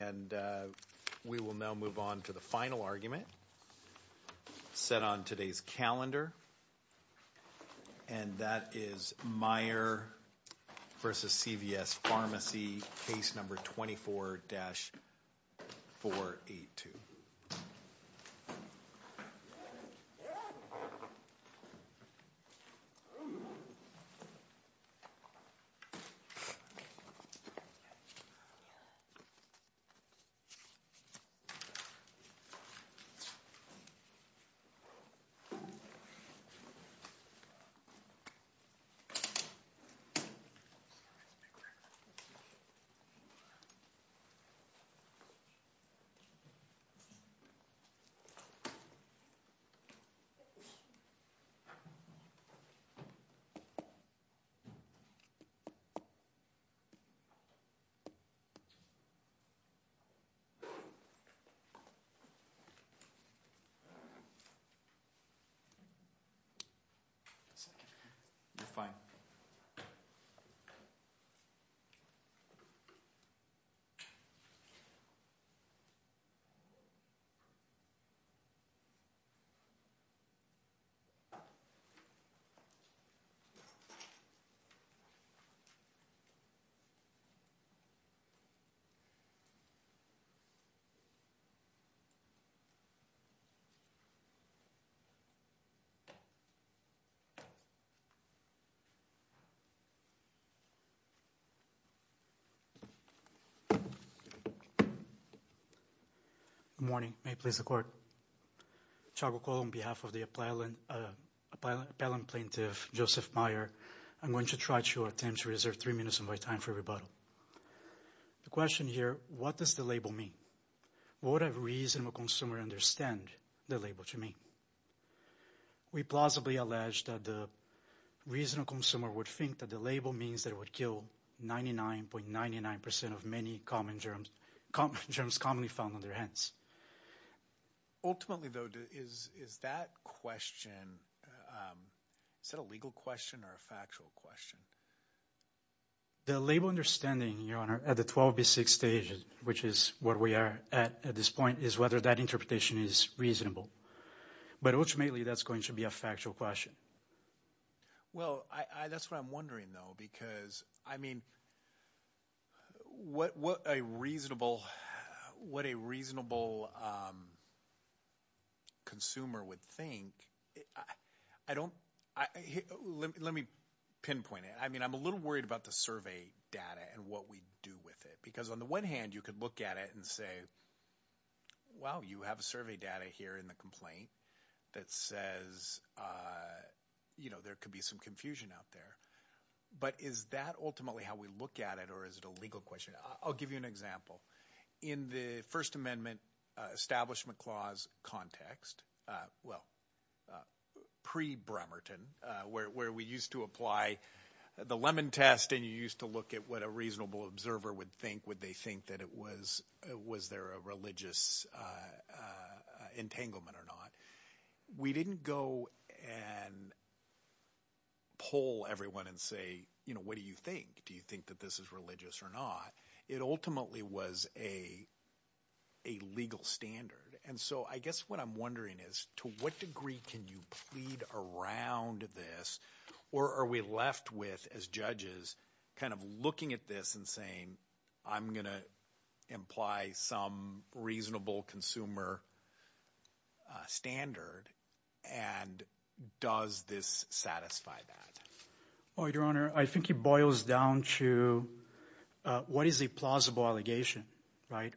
And we will now move on to the final argument set on today's calendar. And that is Mier v. CVS Pharmacy, case number 24-482. Mier v. CVS Pharmacy, Inc. You're fine. Good morning, may it please the Court. Chagokol, on behalf of the appellant plaintiff, Joseph Mier, I'm going to try to reserve three minutes of my time for rebuttal. The question here, what does the label mean? Would a reasonable consumer understand the label to mean? We plausibly allege that the reasonable consumer would think that the label means that it would kill 99.99% of many common germs, germs commonly found on their hands. Ultimately, though, is that question, is that a legal question or a factual question? The label understanding, Your Honor, at the 12B6 stage, which is where we are at this point, is whether that interpretation is reasonable. But ultimately, that's going to be a factual question. Well, that's what I'm wondering, though, because, I mean, what a reasonable consumer would think, I don't, let me pinpoint it. I mean, I'm a little worried about the survey data and what we do with it. Because on the one hand, you could look at it and say, well, you have survey data here in the complaint that says, you know, there could be some confusion out there. But is that ultimately how we look at it or is it a legal question? I'll give you an example. In the First Amendment Establishment Clause context, well, pre-Bremerton, where we used to apply the lemon test and you used to look at what a reasonable observer would think, would they think that it was, was there a religious entanglement or not? We didn't go and poll everyone and say, you know, what do you think? Do you think that this is religious or not? It ultimately was a legal standard. And so I guess what I'm wondering is to what degree can you plead around this or are we left with, as judges, kind of looking at this and saying, I'm going to imply some reasonable consumer standard and does this satisfy that? Well, Your Honor, I think it boils down to what is a plausible allegation, right?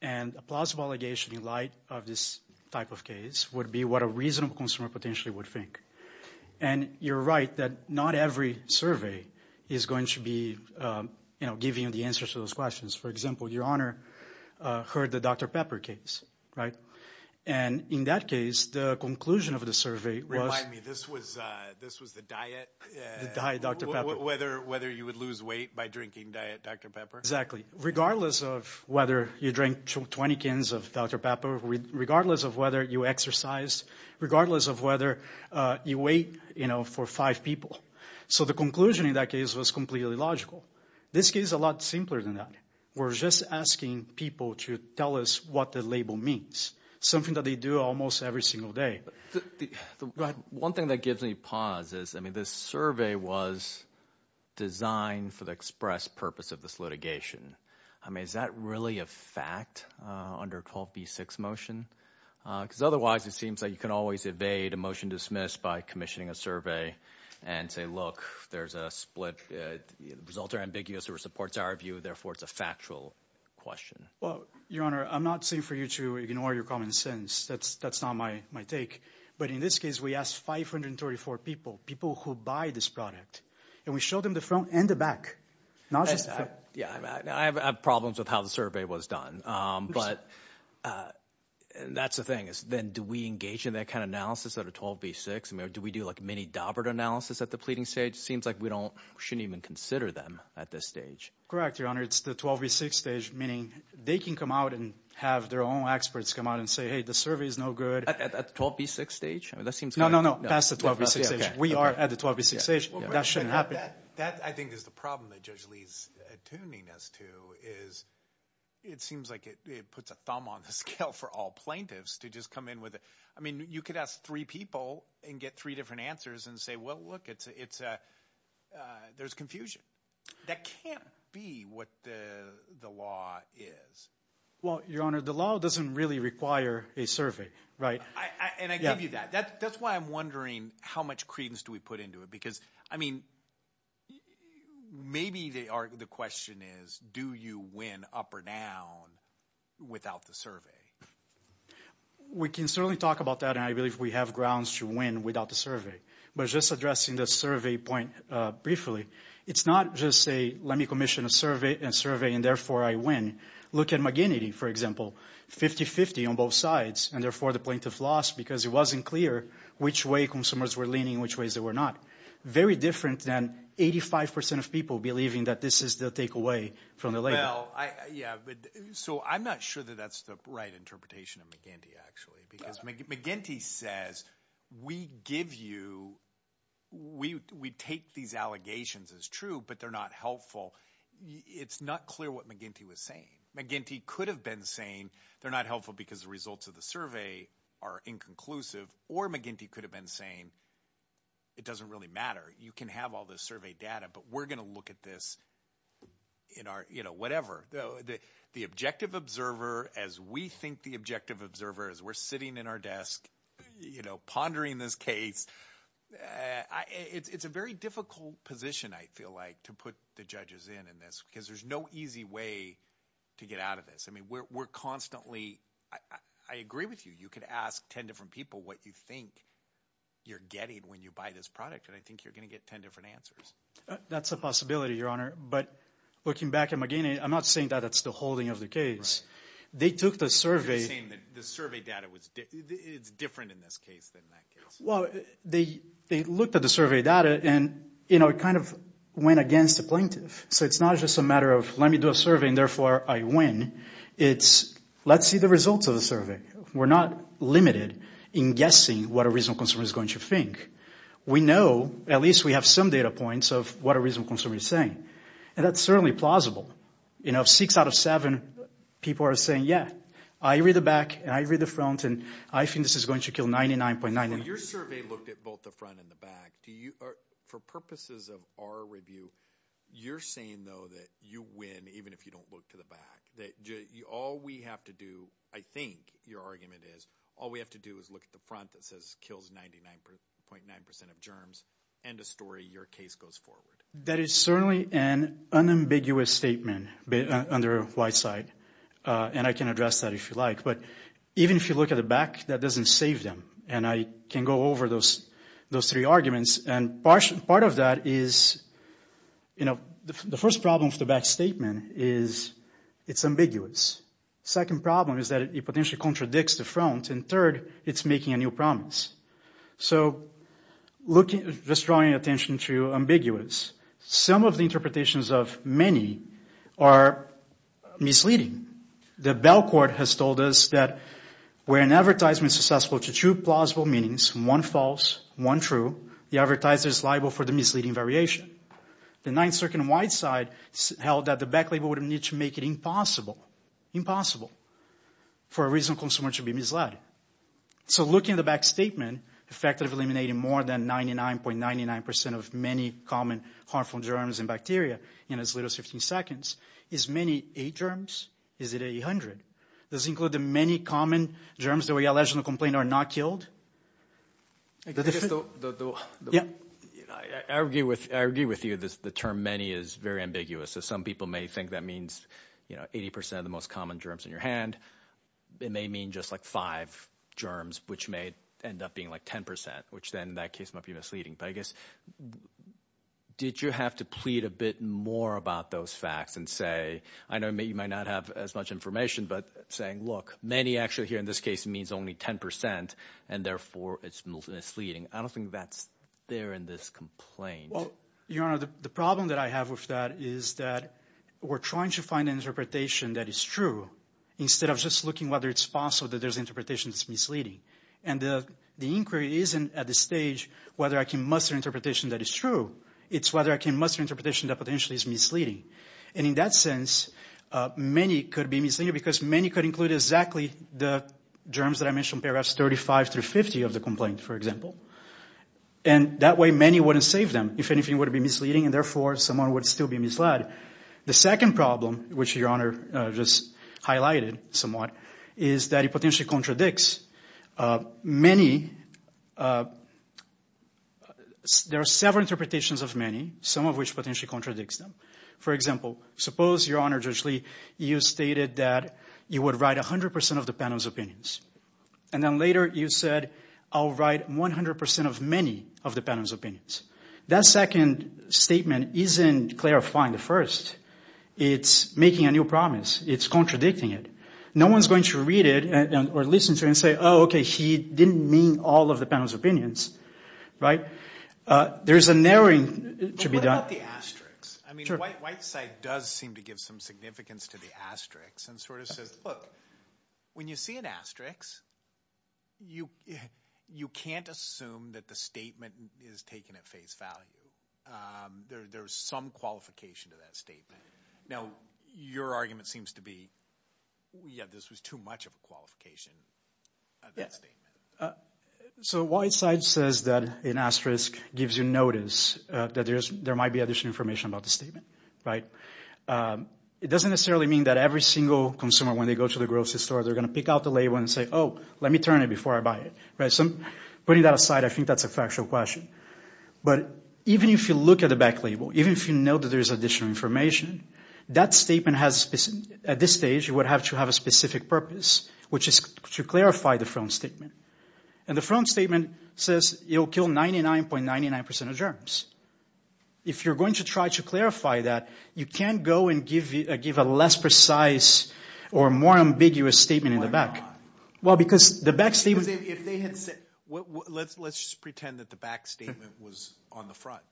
And a plausible allegation in light of this type of case would be what a reasonable consumer potentially would think. And you're right that not every survey is going to be, you know, giving you the answers to those questions. For example, Your Honor heard the Dr. Pepper case, right? And in that case, the conclusion of the survey was- Whether you would lose weight by drinking Dr. Pepper? Exactly. Regardless of whether you drink 20 cans of Dr. Pepper, regardless of whether you exercise, regardless of whether you wait, you know, for five people. So the conclusion in that case was completely logical. This case is a lot simpler than that. We're just asking people to tell us what the label means, something that they do almost every single day. One thing that gives me pause is, I mean, this survey was designed for the express purpose of this litigation. I mean, is that really a fact under a 12B6 motion? Because otherwise, it seems like you can always evade a motion dismissed by commissioning a survey and say, look, there's a split. The results are ambiguous or it supports our view. Therefore, it's a factual question. Well, Your Honor, I'm not saying for you to ignore your common sense. That's not my take. But in this case, we asked 534 people, people who buy this product, and we showed them the front and the back, not just the front. Yeah, I have problems with how the survey was done, but that's the thing. Then do we engage in that kind of analysis at a 12B6? I mean, do we do like mini Daubert analysis at the pleading stage? Seems like we shouldn't even consider them at this stage. Correct, Your Honor. It's the 12B6 stage, meaning they can come out and have their own experts come out and say, hey, the survey is no good. At the 12B6 stage? No, no, no, past the 12B6 stage. We are at the 12B6 stage. That shouldn't happen. That I think is the problem that Judge Lee is attuning us to is it seems like it puts a thumb on the scale for all plaintiffs to just come in with it. I mean, you could ask three people and get three different answers and say, well, look, it's a – there's confusion. That can't be what the law is. Well, Your Honor, the law doesn't really require a survey, right? And I give you that. That's why I'm wondering how much credence do we put into it because, I mean, maybe the question is do you win up or down without the survey? We can certainly talk about that, and I believe we have grounds to win without the survey. But just addressing the survey point briefly, it's not just say let me commission a survey and therefore I win. Look at McGinty, for example, 50-50 on both sides, and therefore the plaintiff lost because it wasn't clear which way consumers were leaning and which ways they were not. Very different than 85 percent of people believing that this is the takeaway from the label. So I'm not sure that that's the right interpretation of McGinty, actually, because McGinty says we give you – we take these allegations as true, but they're not helpful. It's not clear what McGinty was saying. McGinty could have been saying they're not helpful because the results of the survey are inconclusive, or McGinty could have been saying it doesn't really matter. You can have all the survey data, but we're going to look at this in our – whatever. The objective observer, as we think the objective observer, as we're sitting in our desk pondering this case, it's a very difficult position, I feel like, to put the judges in on this because there's no easy way to get out of this. I mean, we're constantly – I agree with you. You could ask 10 different people what you think you're getting when you buy this product, and I think you're going to get 10 different answers. That's a possibility, Your Honor. But looking back at McGinty, I'm not saying that that's the holding of the case. They took the survey – You're saying that the survey data was – it's different in this case than that case. Well, they looked at the survey data, and it kind of went against the plaintiff. So it's not just a matter of let me do a survey and therefore I win. It's let's see the results of the survey. We're not limited in guessing what a reasonable consumer is going to think. We know – at least we have some data points of what a reasonable consumer is saying, and that's certainly plausible. Six out of seven people are saying, yeah, I read the back and I read the front, and I think this is going to kill 99.99. Well, your survey looked at both the front and the back. For purposes of our review, you're saying, though, that you win even if you don't look to the back. That all we have to do, I think your argument is, all we have to do is look at the front that says kills 99.9 percent of germs, end of story, your case goes forward. That is certainly an unambiguous statement under Whiteside, and I can address that if you like. But even if you look at the back, that doesn't save them, and I can go over those three arguments. Part of that is – the first problem with the back statement is it's ambiguous. The second problem is that it potentially contradicts the front, and third, it's making a new promise. Just drawing attention to ambiguous, some of the interpretations of many are misleading. The Bell Court has told us that where an advertisement is susceptible to two plausible meanings, one false, one true, the advertiser is liable for the misleading variation. The Ninth Circuit in Whiteside held that the back label would need to make it impossible, impossible, for a reasonable consumer to be misled. So looking at the back statement, effectively eliminating more than 99.99 percent of many common harmful germs and bacteria in as little as 15 seconds is many eight germs? Is it 800? Does it include the many common germs that we allegedly complained are not killed? I guess the – yeah. I agree with you that the term many is very ambiguous. Some people may think that means 80 percent of the most common germs in your hand. It may mean just like five germs, which may end up being like 10 percent, which then in that case might be misleading. But I guess did you have to plead a bit more about those facts and say – I know you might not have as much information, but saying, look, many actually here in this case means only 10 percent, and therefore it's misleading. I don't think that's there in this complaint. Well, Your Honor, the problem that I have with that is that we're trying to find an interpretation that is true instead of just looking whether it's possible that there's interpretation that's misleading. And the inquiry isn't at the stage whether I can muster interpretation that is true. It's whether I can muster interpretation that potentially is misleading. And in that sense, many could be misleading because many could include exactly the germs that I mentioned in paragraphs 35 through 50 of the complaint, for example. And that way many wouldn't save them. If anything, it would be misleading, and therefore someone would still be misled. The second problem, which Your Honor just highlighted somewhat, is that it potentially contradicts many – there are several interpretations of many, some of which potentially contradicts them. For example, suppose, Your Honor, Judge Lee, you stated that you would write 100 percent of the panel's opinions. And then later you said, I'll write 100 percent of many of the panel's opinions. That second statement isn't clarifying the first. It's making a new promise. It's contradicting it. No one's going to read it or listen to it and say, oh, okay, he didn't mean all of the panel's opinions. Right? There's a narrowing to be done. But what about the asterisks? I mean, Whiteside does seem to give some significance to the asterisks and sort of says, look, when you see an asterisk, you can't assume that the statement is taken at face value. There's some qualification to that statement. Now, your argument seems to be, yeah, this was too much of a qualification of that statement. So Whiteside says that an asterisk gives you notice that there might be additional information about the statement. Right? It doesn't necessarily mean that every single consumer, when they go to the grocery store, they're going to pick out the label and say, oh, let me turn it before I buy it. Right? So putting that aside, I think that's a factual question. But even if you look at the back label, even if you know that there's additional information, that statement has, at this stage, you would have to have a specific purpose, which is to clarify the front statement. And the front statement says it will kill 99.99% of germs. If you're going to try to clarify that, you can't go and give a less precise or more ambiguous statement in the back. Why not? Well, because the back statement. Let's just pretend that the back statement was on the front.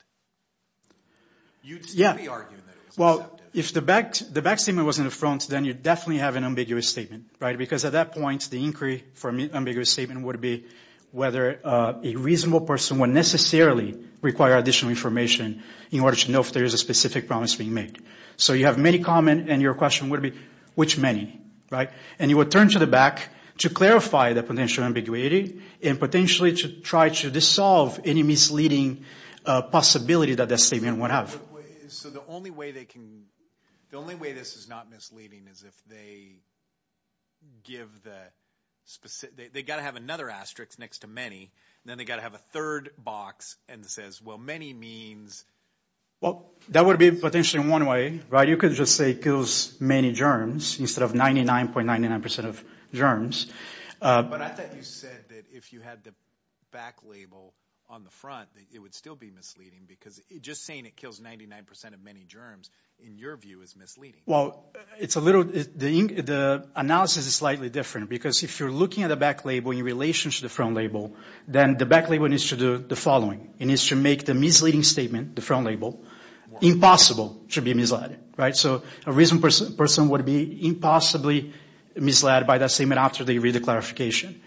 You'd still be arguing that it was deceptive. Well, if the back statement was in the front, then you'd definitely have an ambiguous statement. Right? Because at that point, the inquiry for an ambiguous statement would be whether a reasonable person would necessarily require additional information in order to know if there is a specific promise being made. So you have many comments, and your question would be, which many? Right? And you would turn to the back to clarify the potential ambiguity and potentially to try to dissolve any misleading possibility that that statement would have. So the only way they can – the only way this is not misleading is if they give the – they've got to have another asterisk next to many, and then they've got to have a third box that says, well, many means – Well, that would be potentially one way, right? Well, you could just say it kills many germs instead of 99.99% of germs. But I thought you said that if you had the back label on the front, that it would still be misleading, because just saying it kills 99% of many germs, in your view, is misleading. Well, it's a little – the analysis is slightly different, because if you're looking at the back label in relation to the front label, then the back label needs to do the following. It needs to make the misleading statement, the front label, impossible to be misled, right? So a recent person would be impossibly misled by that statement after they read the clarification.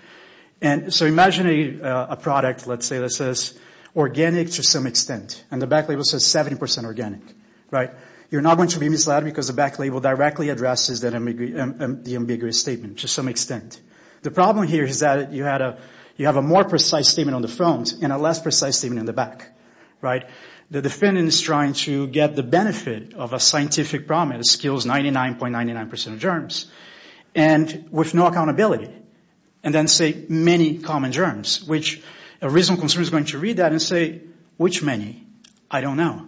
And so imagine a product, let's say, that says organic to some extent, and the back label says 70% organic, right? You're not going to be misled because the back label directly addresses the ambiguous statement to some extent. The problem here is that you have a more precise statement on the front and a less precise statement in the back, right? The defendant is trying to get the benefit of a scientific problem that kills 99.99% of germs, and with no accountability, and then say many common germs, which a recent consumer is going to read that and say, which many? I don't know.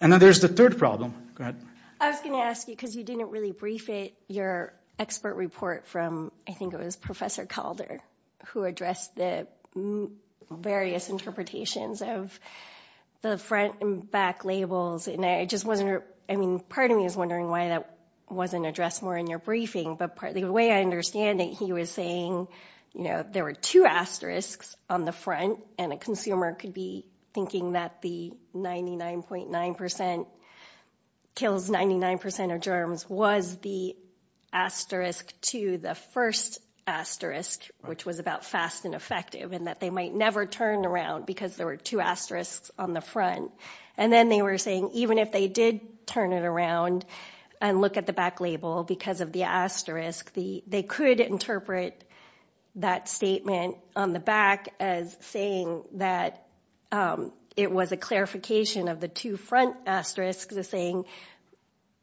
And then there's the third problem. Go ahead. I was going to ask you, because you didn't really brief it, your expert report from, I think it was Professor Calder, who addressed the various interpretations of the front and back labels, and I just wasn't, I mean, part of me is wondering why that wasn't addressed more in your briefing, but the way I understand it, he was saying, you know, there were two asterisks on the front, and a consumer could be thinking that the 99.9% kills 99% of germs was the asterisk to the first asterisk, which was about fast and effective, and that they might never turn around because there were two asterisks on the front. And then they were saying even if they did turn it around and look at the back label because of the asterisk, they could interpret that statement on the back as saying that it was a clarification of the two front asterisks as saying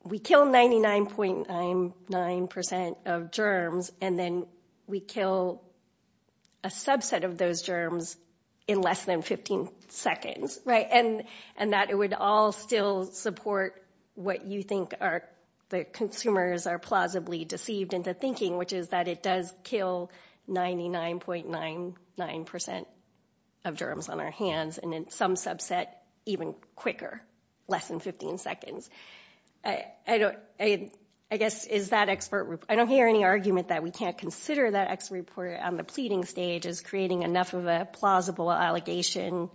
we kill 99.9% of germs, and then we kill a subset of those germs in less than 15 seconds, right? And that it would all still support what you think the consumers are plausibly deceived into thinking, which is that it does kill 99.99% of germs on our hands, and then some subset even quicker, less than 15 seconds. I don't hear any argument that we can't consider that expert report on the pleading stage as creating enough of a plausible allegation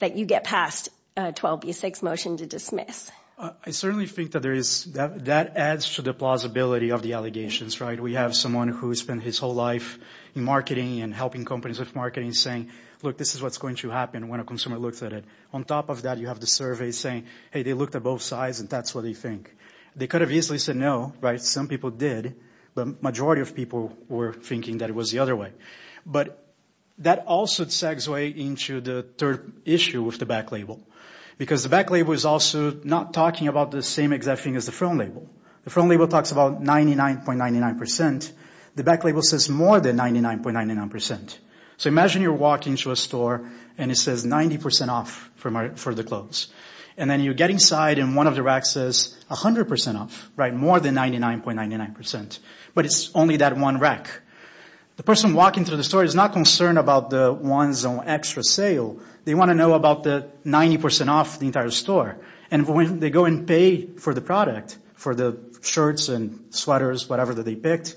that you get past a 12B6 motion to dismiss. I certainly think that adds to the plausibility of the allegations, right? We have someone who spent his whole life in marketing and helping companies with marketing saying, look, this is what's going to happen when a consumer looks at it. On top of that, you have the survey saying, hey, they looked at both sides, and that's what they think. They could have easily said no, right? Some people did, but the majority of people were thinking that it was the other way. But that also sags way into the third issue with the back label, because the back label is also not talking about the same exact thing as the front label. The front label talks about 99.99%. The back label says more than 99.99%. So imagine you're walking to a store, and it says 90% off for the clothes. And then you get inside, and one of the racks says 100% off, right? More than 99.99%. But it's only that one rack. The person walking through the store is not concerned about the ones on extra sale. They want to know about the 90% off the entire store. And when they go and pay for the product, for the shirts and sweaters, whatever that they picked,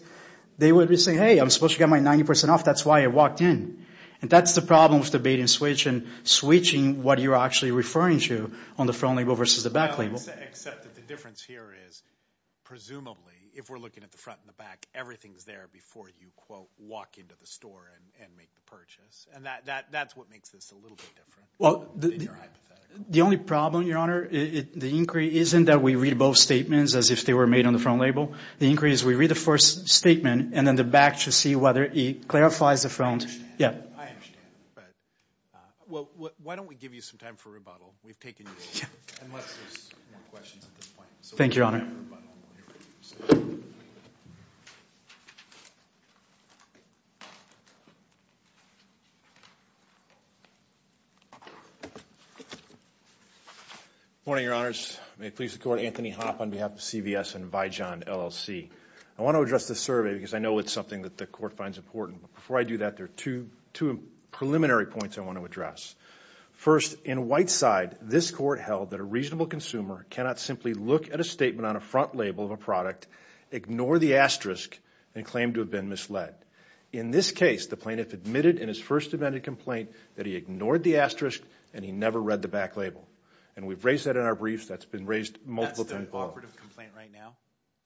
they would be saying, hey, I'm supposed to get my 90% off. That's why I walked in. And that's the problem with the bait and switch and switching what you're actually referring to on the front label versus the back label. Except that the difference here is presumably, if we're looking at the front and the back, everything's there before you, quote, walk into the store and make the purchase. And that's what makes this a little bit different than your hypothetical. The only problem, Your Honor, the inquiry isn't that we read both statements as if they were made on the front label. The inquiry is we read the first statement, and then the back to see whether it clarifies the front. I understand, but why don't we give you some time for rebuttal? We've taken you a while, unless there's more questions at this point. Thank you, Your Honor. Good morning, Your Honors. May it please the Court, Anthony Hopp on behalf of CVS and Vijon LLC. I want to address this survey because I know it's something that the Court finds important. Before I do that, there are two preliminary points I want to address. First, in Whiteside, this Court held that a reasonable consumer cannot simply look at a statement on a front label of a product, ignore the asterisk, and claim to have been misled. In this case, the plaintiff admitted in his first amended complaint that he ignored the asterisk and he never read the back label. And we've raised that in our briefs. That's been raised multiple times. That's the operative complaint right now?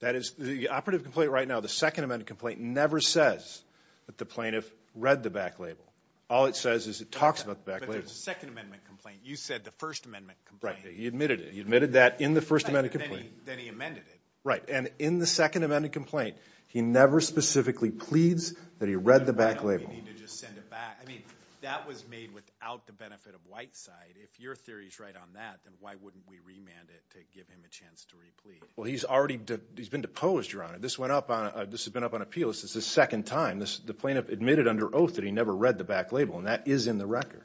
That is the operative complaint right now. The second amended complaint never says that the plaintiff read the back label. All it says is it talks about the back label. But there's a second amendment complaint. You said the first amendment complaint. Right. He admitted it. He admitted that in the first amended complaint. Then he amended it. Right. And in the second amended complaint, he never specifically pleads that he read the back label. Why don't we need to just send it back? I mean, that was made without the benefit of Whiteside. If your theory is right on that, then why wouldn't we remand it to give him a chance to replead? Well, he's already been deposed, Your Honor. This has been up on appeal. This is his second time. The plaintiff admitted under oath that he never read the back label, and that is in the record.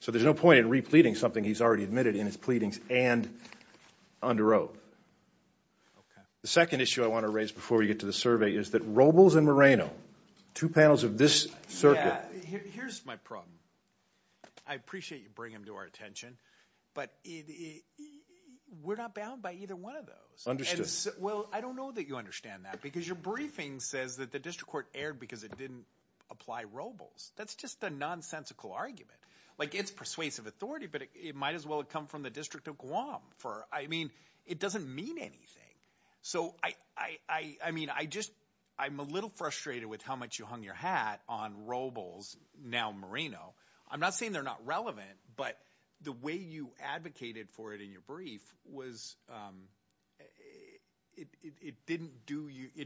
So there's no point in repleting something he's already admitted in his pleadings and under oath. The second issue I want to raise before we get to the survey is that Robles and Moreno, two panels of this circuit. Here's my problem. I appreciate you bringing them to our attention, but we're not bound by either one of those. Understood. Well, I don't know that you understand that because your briefing says that the district court erred because it didn't apply Robles. That's just a nonsensical argument. Like, it's persuasive authority, but it might as well have come from the District of Guam. I mean, it doesn't mean anything. So, I mean, I'm a little frustrated with how much you hung your hat on Robles, now Moreno. I'm not saying they're not relevant, but the way you advocated for it in your brief was it didn't do you –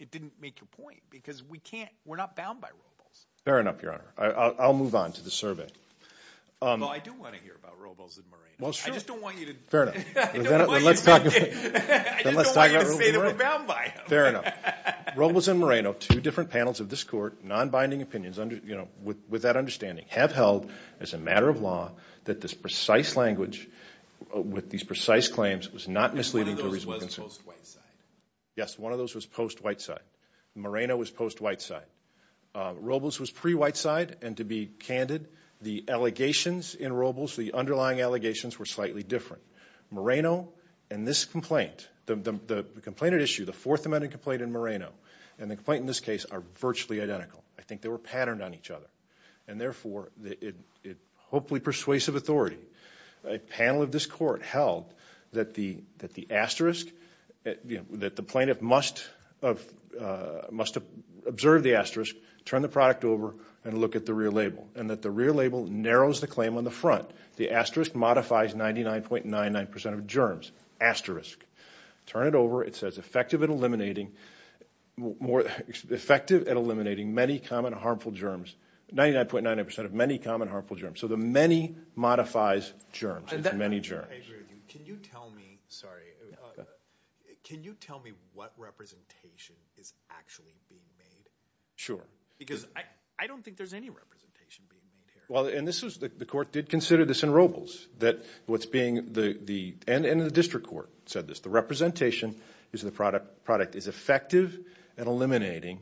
it didn't make your point because we can't – we're not bound by Robles. Fair enough, Your Honor. I'll move on to the survey. Well, I do want to hear about Robles and Moreno. Well, sure. I just don't want you to – Fair enough. I just don't want you to say that we're bound by them. Fair enough. Robles and Moreno, two different panels of this court, non-binding opinions, with that understanding, have held as a matter of law that this precise language with these precise claims was not misleading. One of those was post-Whiteside. Yes, one of those was post-Whiteside. Moreno was post-Whiteside. Robles was pre-Whiteside, and to be candid, the allegations in Robles, the underlying allegations were slightly different. Moreno and this complaint, the complaint at issue, the Fourth Amendment complaint in Moreno, and the complaint in this case are virtually identical. I think they were patterned on each other, and therefore, it hopefully persuasive authority. A panel of this court held that the asterisk – that the plaintiff must have observed the asterisk, turned the product over, and looked at the rear label, and that the rear label narrows the claim on the front. The asterisk modifies 99.99% of germs. Asterisk. Turn it over. It says effective at eliminating many common harmful germs. 99.99% of many common harmful germs. So the many modifies germs. It's many germs. I agree with you. Can you tell me – sorry. Can you tell me what representation is actually being made? Sure. Because I don't think there's any representation being made here. Well, and this was – the court did consider this in Robles that what's being – and the district court said this. The representation is the product is effective at eliminating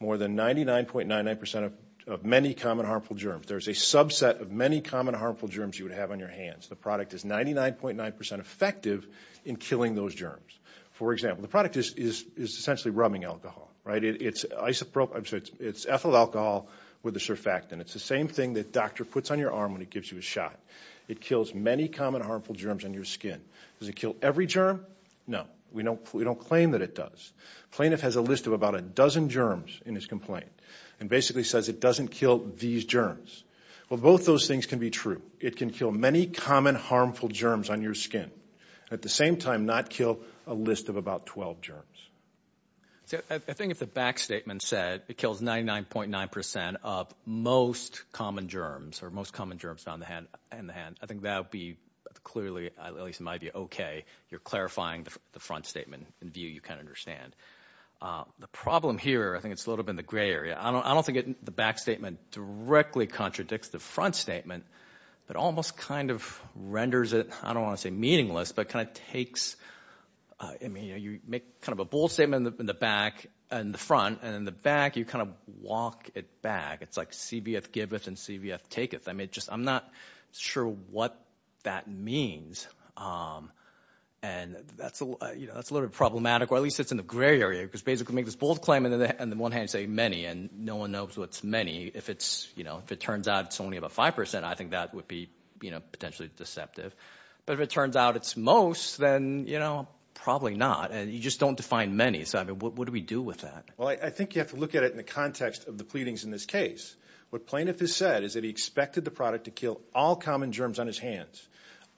more than 99.99% of many common harmful germs. There's a subset of many common harmful germs you would have on your hands. The product is 99.9% effective in killing those germs. For example, the product is essentially rubbing alcohol, right? It's ethyl alcohol with a surfactant. It's the same thing that doctor puts on your arm when he gives you a shot. It kills many common harmful germs on your skin. Does it kill every germ? No. We don't claim that it does. Plaintiff has a list of about a dozen germs in his complaint and basically says it doesn't kill these germs. Well, both those things can be true. It can kill many common harmful germs on your skin and at the same time not kill a list of about 12 germs. I think if the back statement said it kills 99.9% of most common germs or most common germs in the hand, I think that would be clearly – at least it might be okay. You're clarifying the front statement in a view you can understand. The problem here, I think it's a little bit in the gray area. I don't think the back statement directly contradicts the front statement, but almost kind of renders it – I don't want to say meaningless, but kind of takes – you make kind of a bold statement in the back and the front, and in the back, you kind of walk it back. It's like CVF giveth and CVF taketh. I'm not sure what that means, and that's a little bit problematic, or at least it's in the gray area because basically make this bold claim and on the one hand say many, and no one knows what's many. If it turns out it's only about 5%, I think that would be potentially deceptive. But if it turns out it's most, then probably not. You just don't define many, so what do we do with that? Well, I think you have to look at it in the context of the pleadings in this case. What plaintiff has said is that he expected the product to kill all common germs on his hands.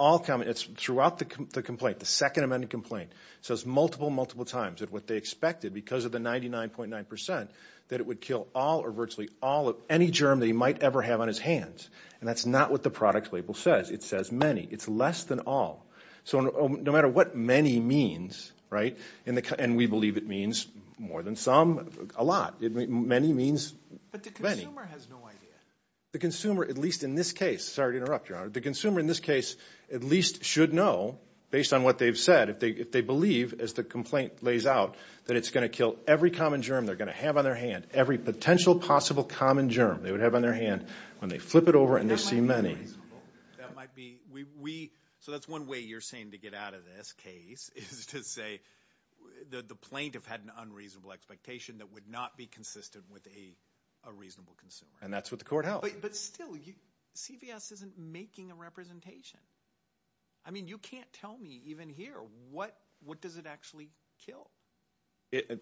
It's throughout the complaint, the second amended complaint. It says multiple, multiple times that what they expected because of the 99.9% that it would kill all or virtually all of any germ that he might ever have on his hands, and that's not what the product label says. It says many. It's less than all. So no matter what many means, right, and we believe it means more than some, a lot. Many means many. But the consumer has no idea. The consumer, at least in this case, sorry to interrupt, Your Honor. The consumer in this case at least should know, based on what they've said, if they believe as the complaint lays out that it's going to kill every common germ they're going to have on their hand, every potential possible common germ they would have on their hand when they flip it over and they see many. That might be. So that's one way you're saying to get out of this case is to say the plaintiff had an unreasonable expectation that would not be consistent with a reasonable consumer. And that's what the court held. But still, CVS isn't making a representation. I mean, you can't tell me even here what does it actually kill.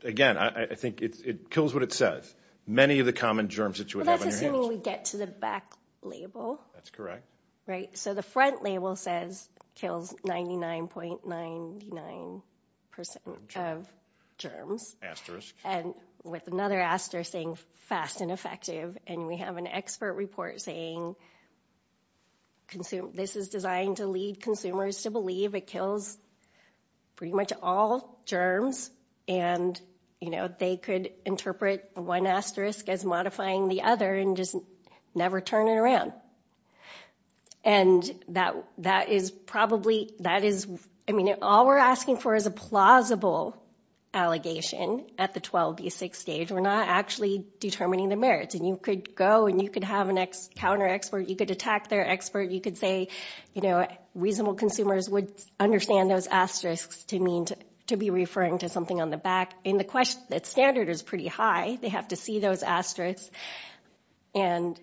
Again, I think it kills what it says. Many of the common germs that you would have on your hands. Well, that's assuming we get to the back label. That's correct. Right. So the front label says kills 99.99% of germs. And with another asterisk saying fast and effective. And we have an expert report saying this is designed to lead consumers to believe it kills pretty much all germs. And they could interpret one asterisk as modifying the other and just never turn it around. And that is probably, I mean, all we're asking for is a plausible allegation at the 12B6 stage. We're not actually determining the merits. And you could go and you could have a counter expert. You could attack their expert. You could say, you know, reasonable consumers would understand those asterisks to be referring to something on the back. And the standard is pretty high. They have to see those asterisks and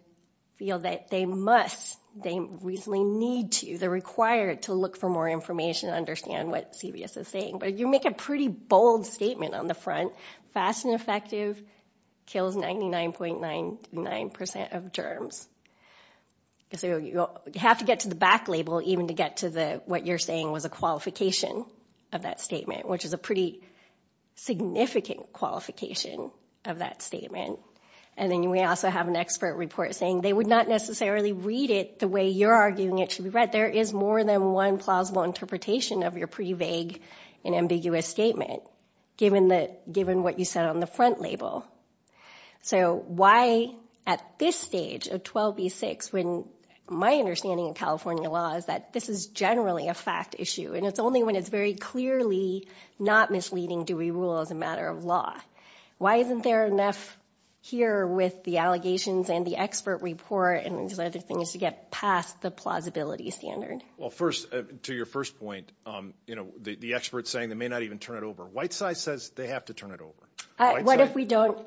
feel that they must, they reasonably need to, they're required to look for more information and understand what CVS is saying. But you make a pretty bold statement on the front. Fast and effective kills 99.99% of germs. So you have to get to the back label even to get to what you're saying was a qualification of that statement, which is a pretty significant qualification of that statement. And then we also have an expert report saying they would not necessarily read it the way you're arguing it should be read. There is more than one plausible interpretation of your pretty vague and ambiguous statement, given what you said on the front label. So why at this stage of 12B6, when my understanding of California law is that this is generally a fact issue, and it's only when it's very clearly not misleading do we rule as a matter of law. Why isn't there enough here with the allegations and the expert report and these other things to get past the plausibility standard? Well, first, to your first point, you know, the experts saying they may not even turn it over. Whiteside says they have to turn it over. What if we don't?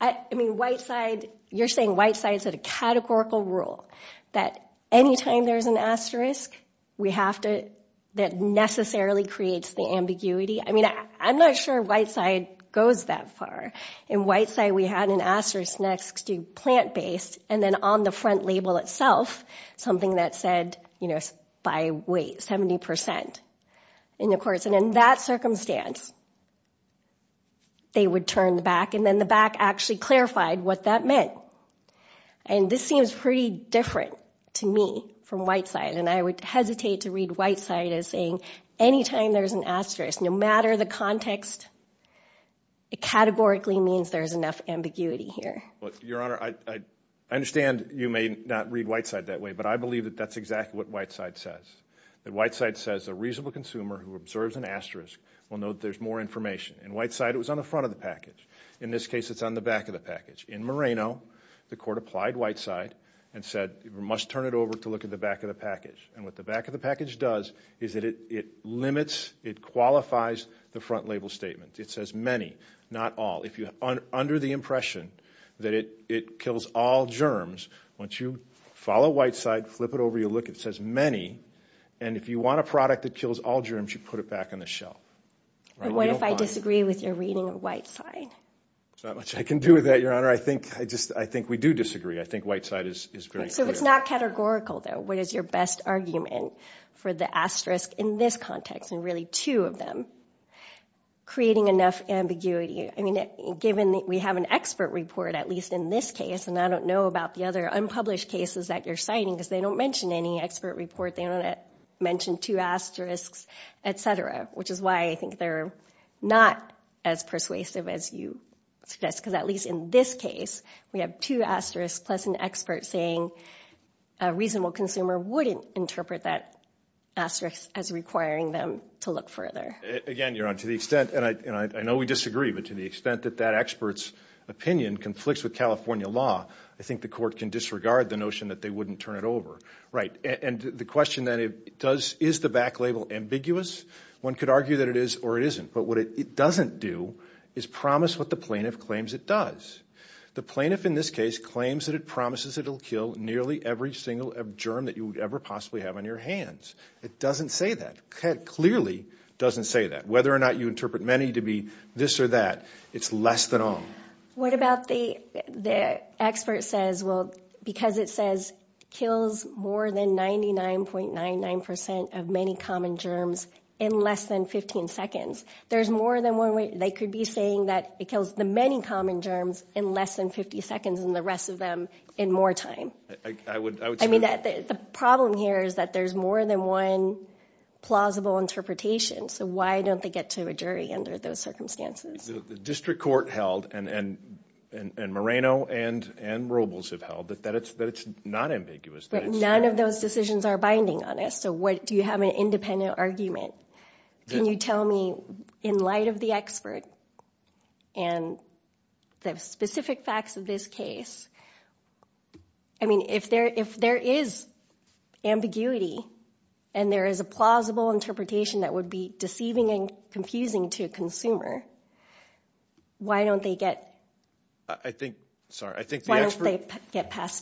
I mean, Whiteside, you're saying Whiteside's a categorical rule, that any time there's an asterisk, we have to, that necessarily creates the ambiguity. I mean, I'm not sure Whiteside goes that far. In Whiteside, we had an asterisk next to plant-based, and then on the front label itself, something that said, you know, by weight, 70% in the courts. And in that circumstance, they would turn the back, and then the back actually clarified what that meant. And this seems pretty different to me from Whiteside, and I would hesitate to read Whiteside as saying any time there's an asterisk, no matter the context, it categorically means there's enough ambiguity here. Your Honor, I understand you may not read Whiteside that way, but I believe that that's exactly what Whiteside says, that Whiteside says a reasonable consumer who observes an asterisk will know that there's more information. In Whiteside, it was on the front of the package. In this case, it's on the back of the package. In Moreno, the court applied Whiteside and said we must turn it over to look at the back of the package. And what the back of the package does is that it limits, it qualifies the front label statement. It says many, not all. If you're under the impression that it kills all germs, once you follow Whiteside, flip it over, you look, it says many, and if you want a product that kills all germs, you put it back on the shelf. What if I disagree with your reading of Whiteside? There's not much I can do with that, Your Honor. I think we do disagree. I think Whiteside is very clear. So if it's not categorical, though, what is your best argument for the asterisk in this context, and really two of them, creating enough ambiguity? I mean, given that we have an expert report, at least in this case, and I don't know about the other unpublished cases that you're citing because they don't mention any expert report, they don't mention two asterisks, et cetera, which is why I think they're not as persuasive as you suggest, because at least in this case we have two asterisks plus an expert saying a reasonable consumer wouldn't interpret that asterisk as requiring them to look further. Again, Your Honor, to the extent, and I know we disagree, but to the extent that that expert's opinion conflicts with California law, I think the court can disregard the notion that they wouldn't turn it over. Right. And the question then, is the back label ambiguous? One could argue that it is or it isn't. But what it doesn't do is promise what the plaintiff claims it does. The plaintiff in this case claims that it promises it will kill nearly every single germ that you would ever possibly have on your hands. It doesn't say that. It clearly doesn't say that. Whether or not you interpret many to be this or that, it's less than all. What about the expert says, well, because it says kills more than 99.99% of many common germs in less than 15 seconds, there's more than one way they could be saying that it kills the many common germs in less than 50 seconds and the rest of them in more time. I would say that. I mean, the problem here is that there's more than one plausible interpretation. So why don't they get to a jury under those circumstances? The district court held, and Moreno and Robles have held, that it's not ambiguous. But none of those decisions are binding on us. So do you have an independent argument? Can you tell me, in light of the expert and the specific facts of this case, I mean, if there is ambiguity and there is a plausible interpretation that would be deceiving and confusing to a consumer, why don't they get past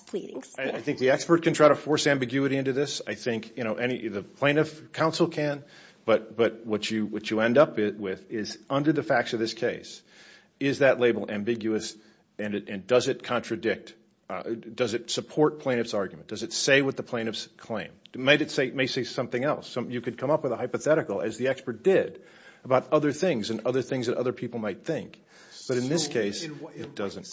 pleadings? I think the expert can try to force ambiguity into this. I think the plaintiff counsel can. But what you end up with is, under the facts of this case, is that label ambiguous and does it contradict? Does it support plaintiff's argument? Does it say what the plaintiff's claim? It may say something else. You could come up with a hypothetical, as the expert did, about other things and other things that other people might think. But in this case, it doesn't.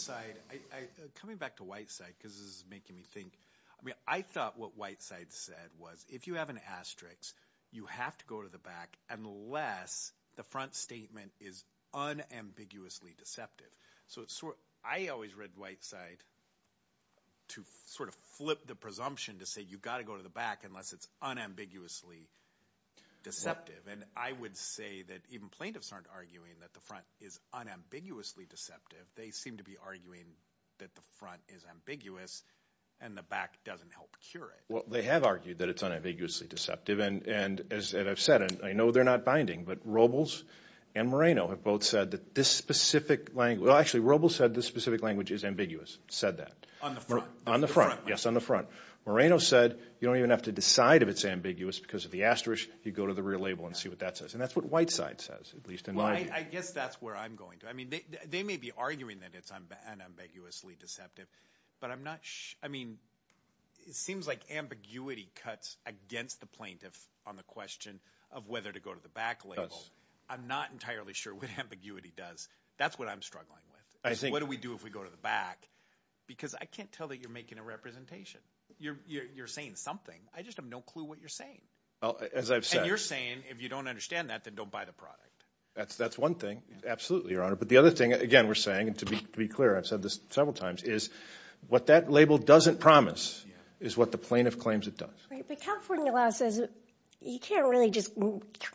Coming back to Whiteside, because this is making me think, I mean, I thought what Whiteside said was, if you have an asterisk, you have to go to the back unless the front statement is unambiguously deceptive. So I always read Whiteside to sort of flip the presumption to say you've got to go to the back unless it's unambiguously deceptive. And I would say that even plaintiffs aren't arguing that the front is unambiguously deceptive. They seem to be arguing that the front is ambiguous and the back doesn't help cure it. Well, they have argued that it's unambiguously deceptive. And as I've said, and I know they're not binding, but Robles and Moreno have both said that this specific language – well, actually, Robles said this specific language is ambiguous, said that. On the front. On the front, yes, on the front. Moreno said you don't even have to decide if it's ambiguous because of the asterisk. You go to the rear label and see what that says. And that's what Whiteside says, at least in my view. Well, I guess that's where I'm going. I mean, they may be arguing that it's unambiguously deceptive, but I'm not – I mean, it seems like ambiguity cuts against the plaintiff on the question of whether to go to the back label. It does. I'm not entirely sure what ambiguity does. That's what I'm struggling with, is what do we do if we go to the back? Because I can't tell that you're making a representation. You're saying something. I just have no clue what you're saying. As I've said. And you're saying if you don't understand that, then don't buy the product. That's one thing. Absolutely, Your Honor. But the other thing, again, we're saying, and to be clear, I've said this several times, is what that label doesn't promise is what the plaintiff claims it does. But California law says you can't really just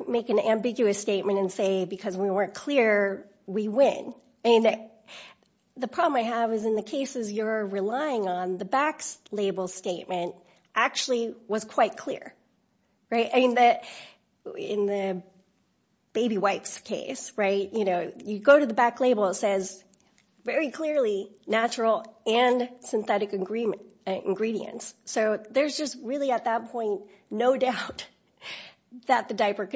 make an ambiguous statement and say because we weren't clear, we win. The problem I have is in the cases you're relying on, the back label statement actually was quite clear. In the baby wipes case, you go to the back label, it says very clearly natural and synthetic ingredients. So there's just really at that point no doubt that the diaper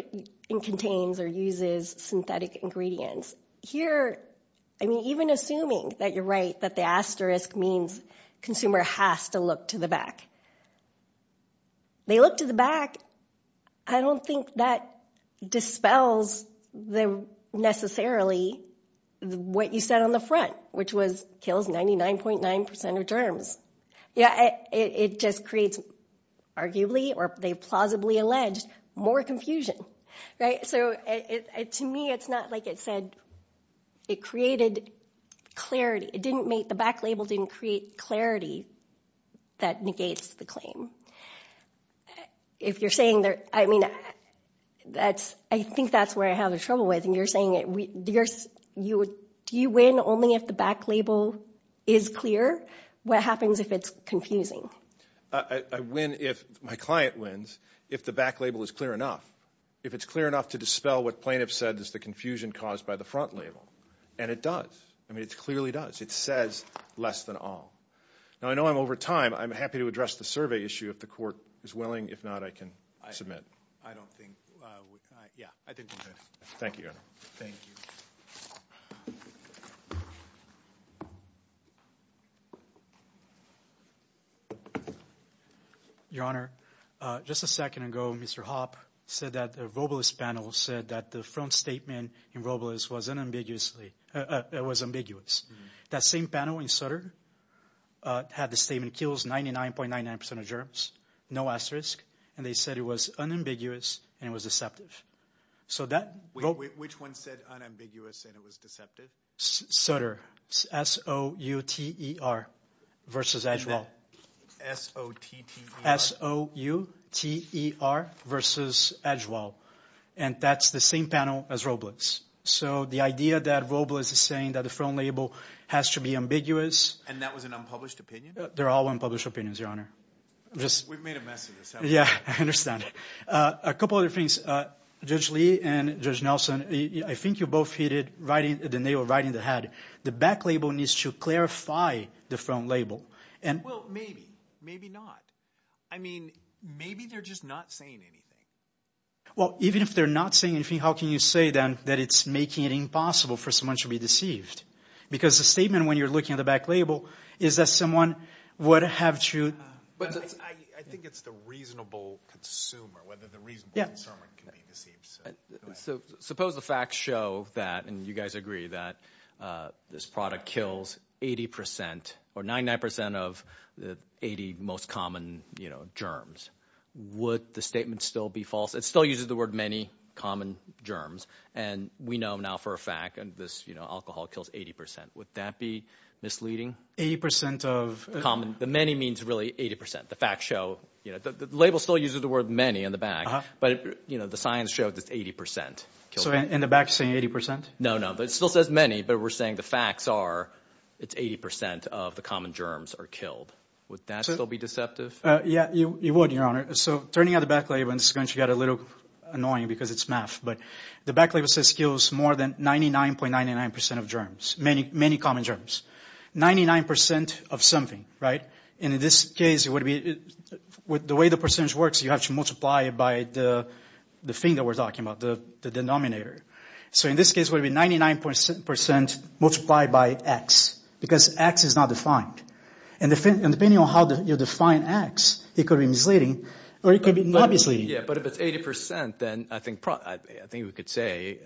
contains or uses synthetic ingredients. Here, I mean, even assuming that you're right, that the asterisk means consumer has to look to the back. They look to the back. I don't think that dispels necessarily what you said on the front, which was kills 99.9% of germs. It just creates, arguably, or they plausibly allege, more confusion. So to me, it's not like it said it created clarity. The back label didn't create clarity that negates the claim. If you're saying that, I mean, I think that's where I have trouble with, and you're saying do you win only if the back label is clear? What happens if it's confusing? I win if my client wins if the back label is clear enough, if it's clear enough to dispel what plaintiffs said is the confusion caused by the front label, and it does. I mean, it clearly does. It says less than all. Now, I know I'm over time. I'm happy to address the survey issue if the court is willing. If not, I can submit. I don't think we can. Yeah, I think we can. Thank you, Your Honor. Thank you. Your Honor, just a second ago, Mr. Hopp said that the Robles panel said that the front statement in Robles was ambiguous. That same panel in Sutter had the statement, kills 99.99% of germs, no asterisk, and they said it was unambiguous and it was deceptive. Which one said unambiguous and it was deceptive? Sutter, S-O-U-T-E-R, versus Edgewell. S-O-T-T-E-R? S-O-U-T-E-R, versus Edgewell. And that's the same panel as Robles. So the idea that Robles is saying that the front label has to be ambiguous. And that was an unpublished opinion? They're all unpublished opinions, Your Honor. We've made a mess of this. Yeah, I understand. A couple other things. Judge Lee and Judge Nelson, I think you both hit it right in the head. The back label needs to clarify the front label. Well, maybe, maybe not. I mean, maybe they're just not saying anything. Well, even if they're not saying anything, how can you say then that it's making it impossible for someone to be deceived? Because the statement when you're looking at the back label is that someone would have to. I think it's the reasonable consumer, whether the reasonable consumer can be deceived. Suppose the facts show that, and you guys agree, that this product kills 80% or 99% of the 80 most common germs. Would the statement still be false? It still uses the word many common germs. And we know now for a fact this alcohol kills 80%. Would that be misleading? 80% of... The many means really 80%. The facts show... The label still uses the word many in the back. But the science shows it's 80%. So in the back it's saying 80%? No, no. It still says many, but we're saying the facts are it's 80% of the common germs are killed. Would that still be deceptive? Yeah, it would, Your Honor. So turning out the back label in this country got a little annoying because it's math. But the back label says it kills more than 99.99% of germs, many common germs. 99% of something, right? And in this case, it would be... The way the percentage works, you have to multiply it by the thing that we're talking about, the denominator. So in this case, it would be 99.7% multiplied by X because X is not defined. And depending on how you define X, it could be misleading or it could be obviously... Yeah, but if it's 80%, then I think we could say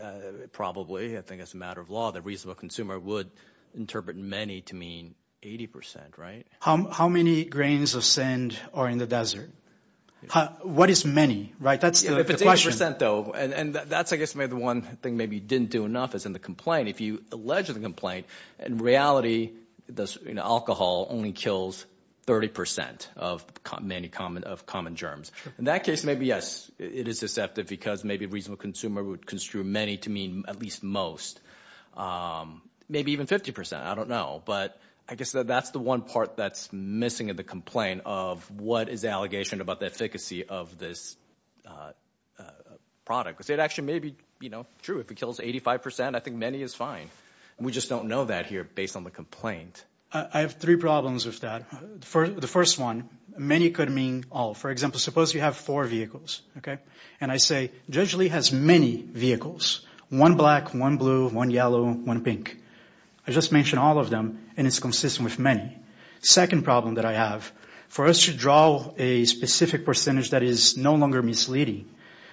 probably, I think as a matter of law, the reasonable consumer would interpret many to mean 80%, right? How many grains of sand are in the desert? What is many, right? That's the question. 80%, though, and that's, I guess, maybe the one thing maybe you didn't do enough is in the complaint. If you allege the complaint, in reality, alcohol only kills 30% of common germs. In that case, maybe, yes, it is deceptive because maybe a reasonable consumer would construe many to mean at least most, maybe even 50%. I don't know. But I guess that's the one part that's missing in the complaint of what is the allegation about the efficacy of this product? Because it actually may be true. If it kills 85%, I think many is fine. We just don't know that here based on the complaint. I have three problems with that. The first one, many could mean all. For example, suppose you have four vehicles, okay? And I say, Judge Lee has many vehicles, one black, one blue, one yellow, one pink. I just mentioned all of them, and it's consistent with many. Second problem that I have, for us to draw a specific percentage that is no longer misleading,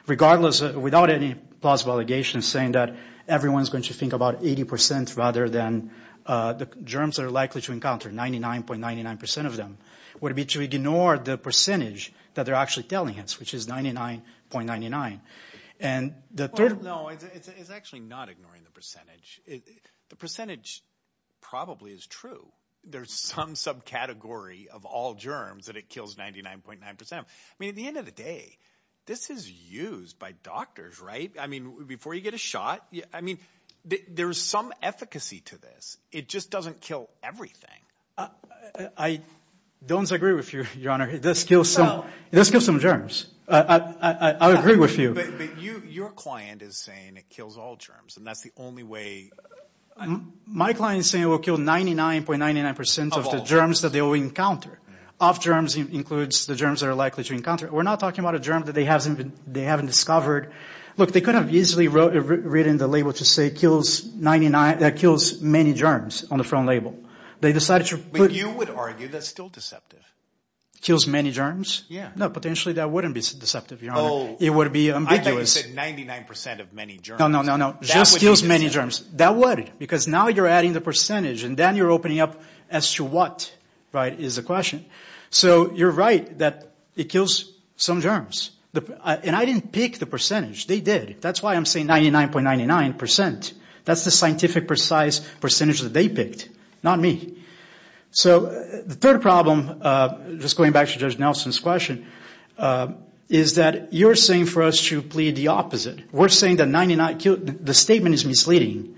regardless, without any plausible allegations, saying that everyone is going to think about 80% rather than the germs they're likely to encounter, 99.99% of them, would it be to ignore the percentage that they're actually telling us, which is 99.99%? No, it's actually not ignoring the percentage. The percentage probably is true. There's some subcategory of all germs that it kills 99.9%. I mean, at the end of the day, this is used by doctors, right? I mean, before you get a shot, I mean, there's some efficacy to this. It just doesn't kill everything. I don't agree with you, Your Honor. This kills some germs. I agree with you. But your client is saying it kills all germs, and that's the only way. My client is saying it will kill 99.99% of the germs that they will encounter. Of germs includes the germs they're likely to encounter. We're not talking about a germ that they haven't discovered. Look, they could have easily written the label to say it kills many germs on the front label. But you would argue that's still deceptive. Kills many germs? Yeah. No, potentially that wouldn't be deceptive, Your Honor. It would be ambiguous. I thought you said 99% of many germs. No, no, no, no. Just kills many germs. That would. Because now you're adding the percentage, and then you're opening up as to what, right, is the question. So you're right that it kills some germs. And I didn't pick the percentage. They did. That's why I'm saying 99.99%. That's the scientific precise percentage that they picked, not me. So the third problem, just going back to Judge Nelson's question, is that you're saying for us to plead the opposite. We're saying that the statement is misleading.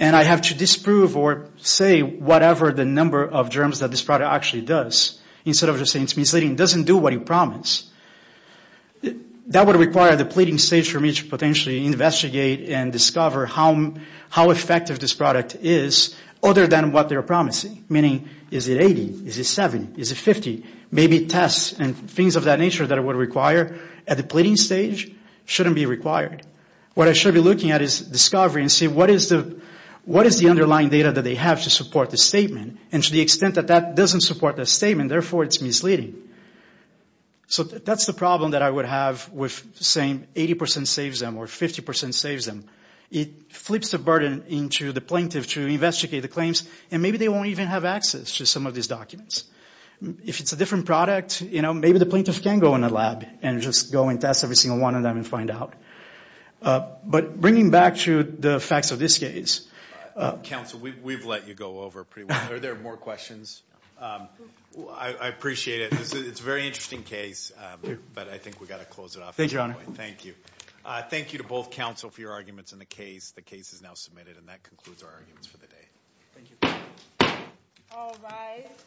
And I have to disprove or say whatever the number of germs that this product actually does, instead of just saying it's misleading. It doesn't do what you promised. That would require the pleading stage for me to potentially investigate and discover how effective this product is, other than what they're promising. Meaning, is it 80? Is it 70? Is it 50? Maybe tests and things of that nature that I would require at the pleading stage shouldn't be required. What I should be looking at is discovery and see what is the underlying data that they have to support the statement. And to the extent that that doesn't support the statement, therefore it's misleading. So that's the problem that I would have with saying 80% saves them or 50% saves them. It flips the burden into the plaintiff to investigate the claims, and maybe they won't even have access to some of these documents. If it's a different product, maybe the plaintiff can go in a lab and just go and test every single one of them and find out. But bringing back to the facts of this case. Counsel, we've let you go over pretty well. Are there more questions? I appreciate it. It's a very interesting case, but I think we've got to close it off. Thank you, Your Honor. Thank you. Thank you to both counsel for your arguments in the case. The case is now submitted, and that concludes our arguments for the day. Thank you. All rise.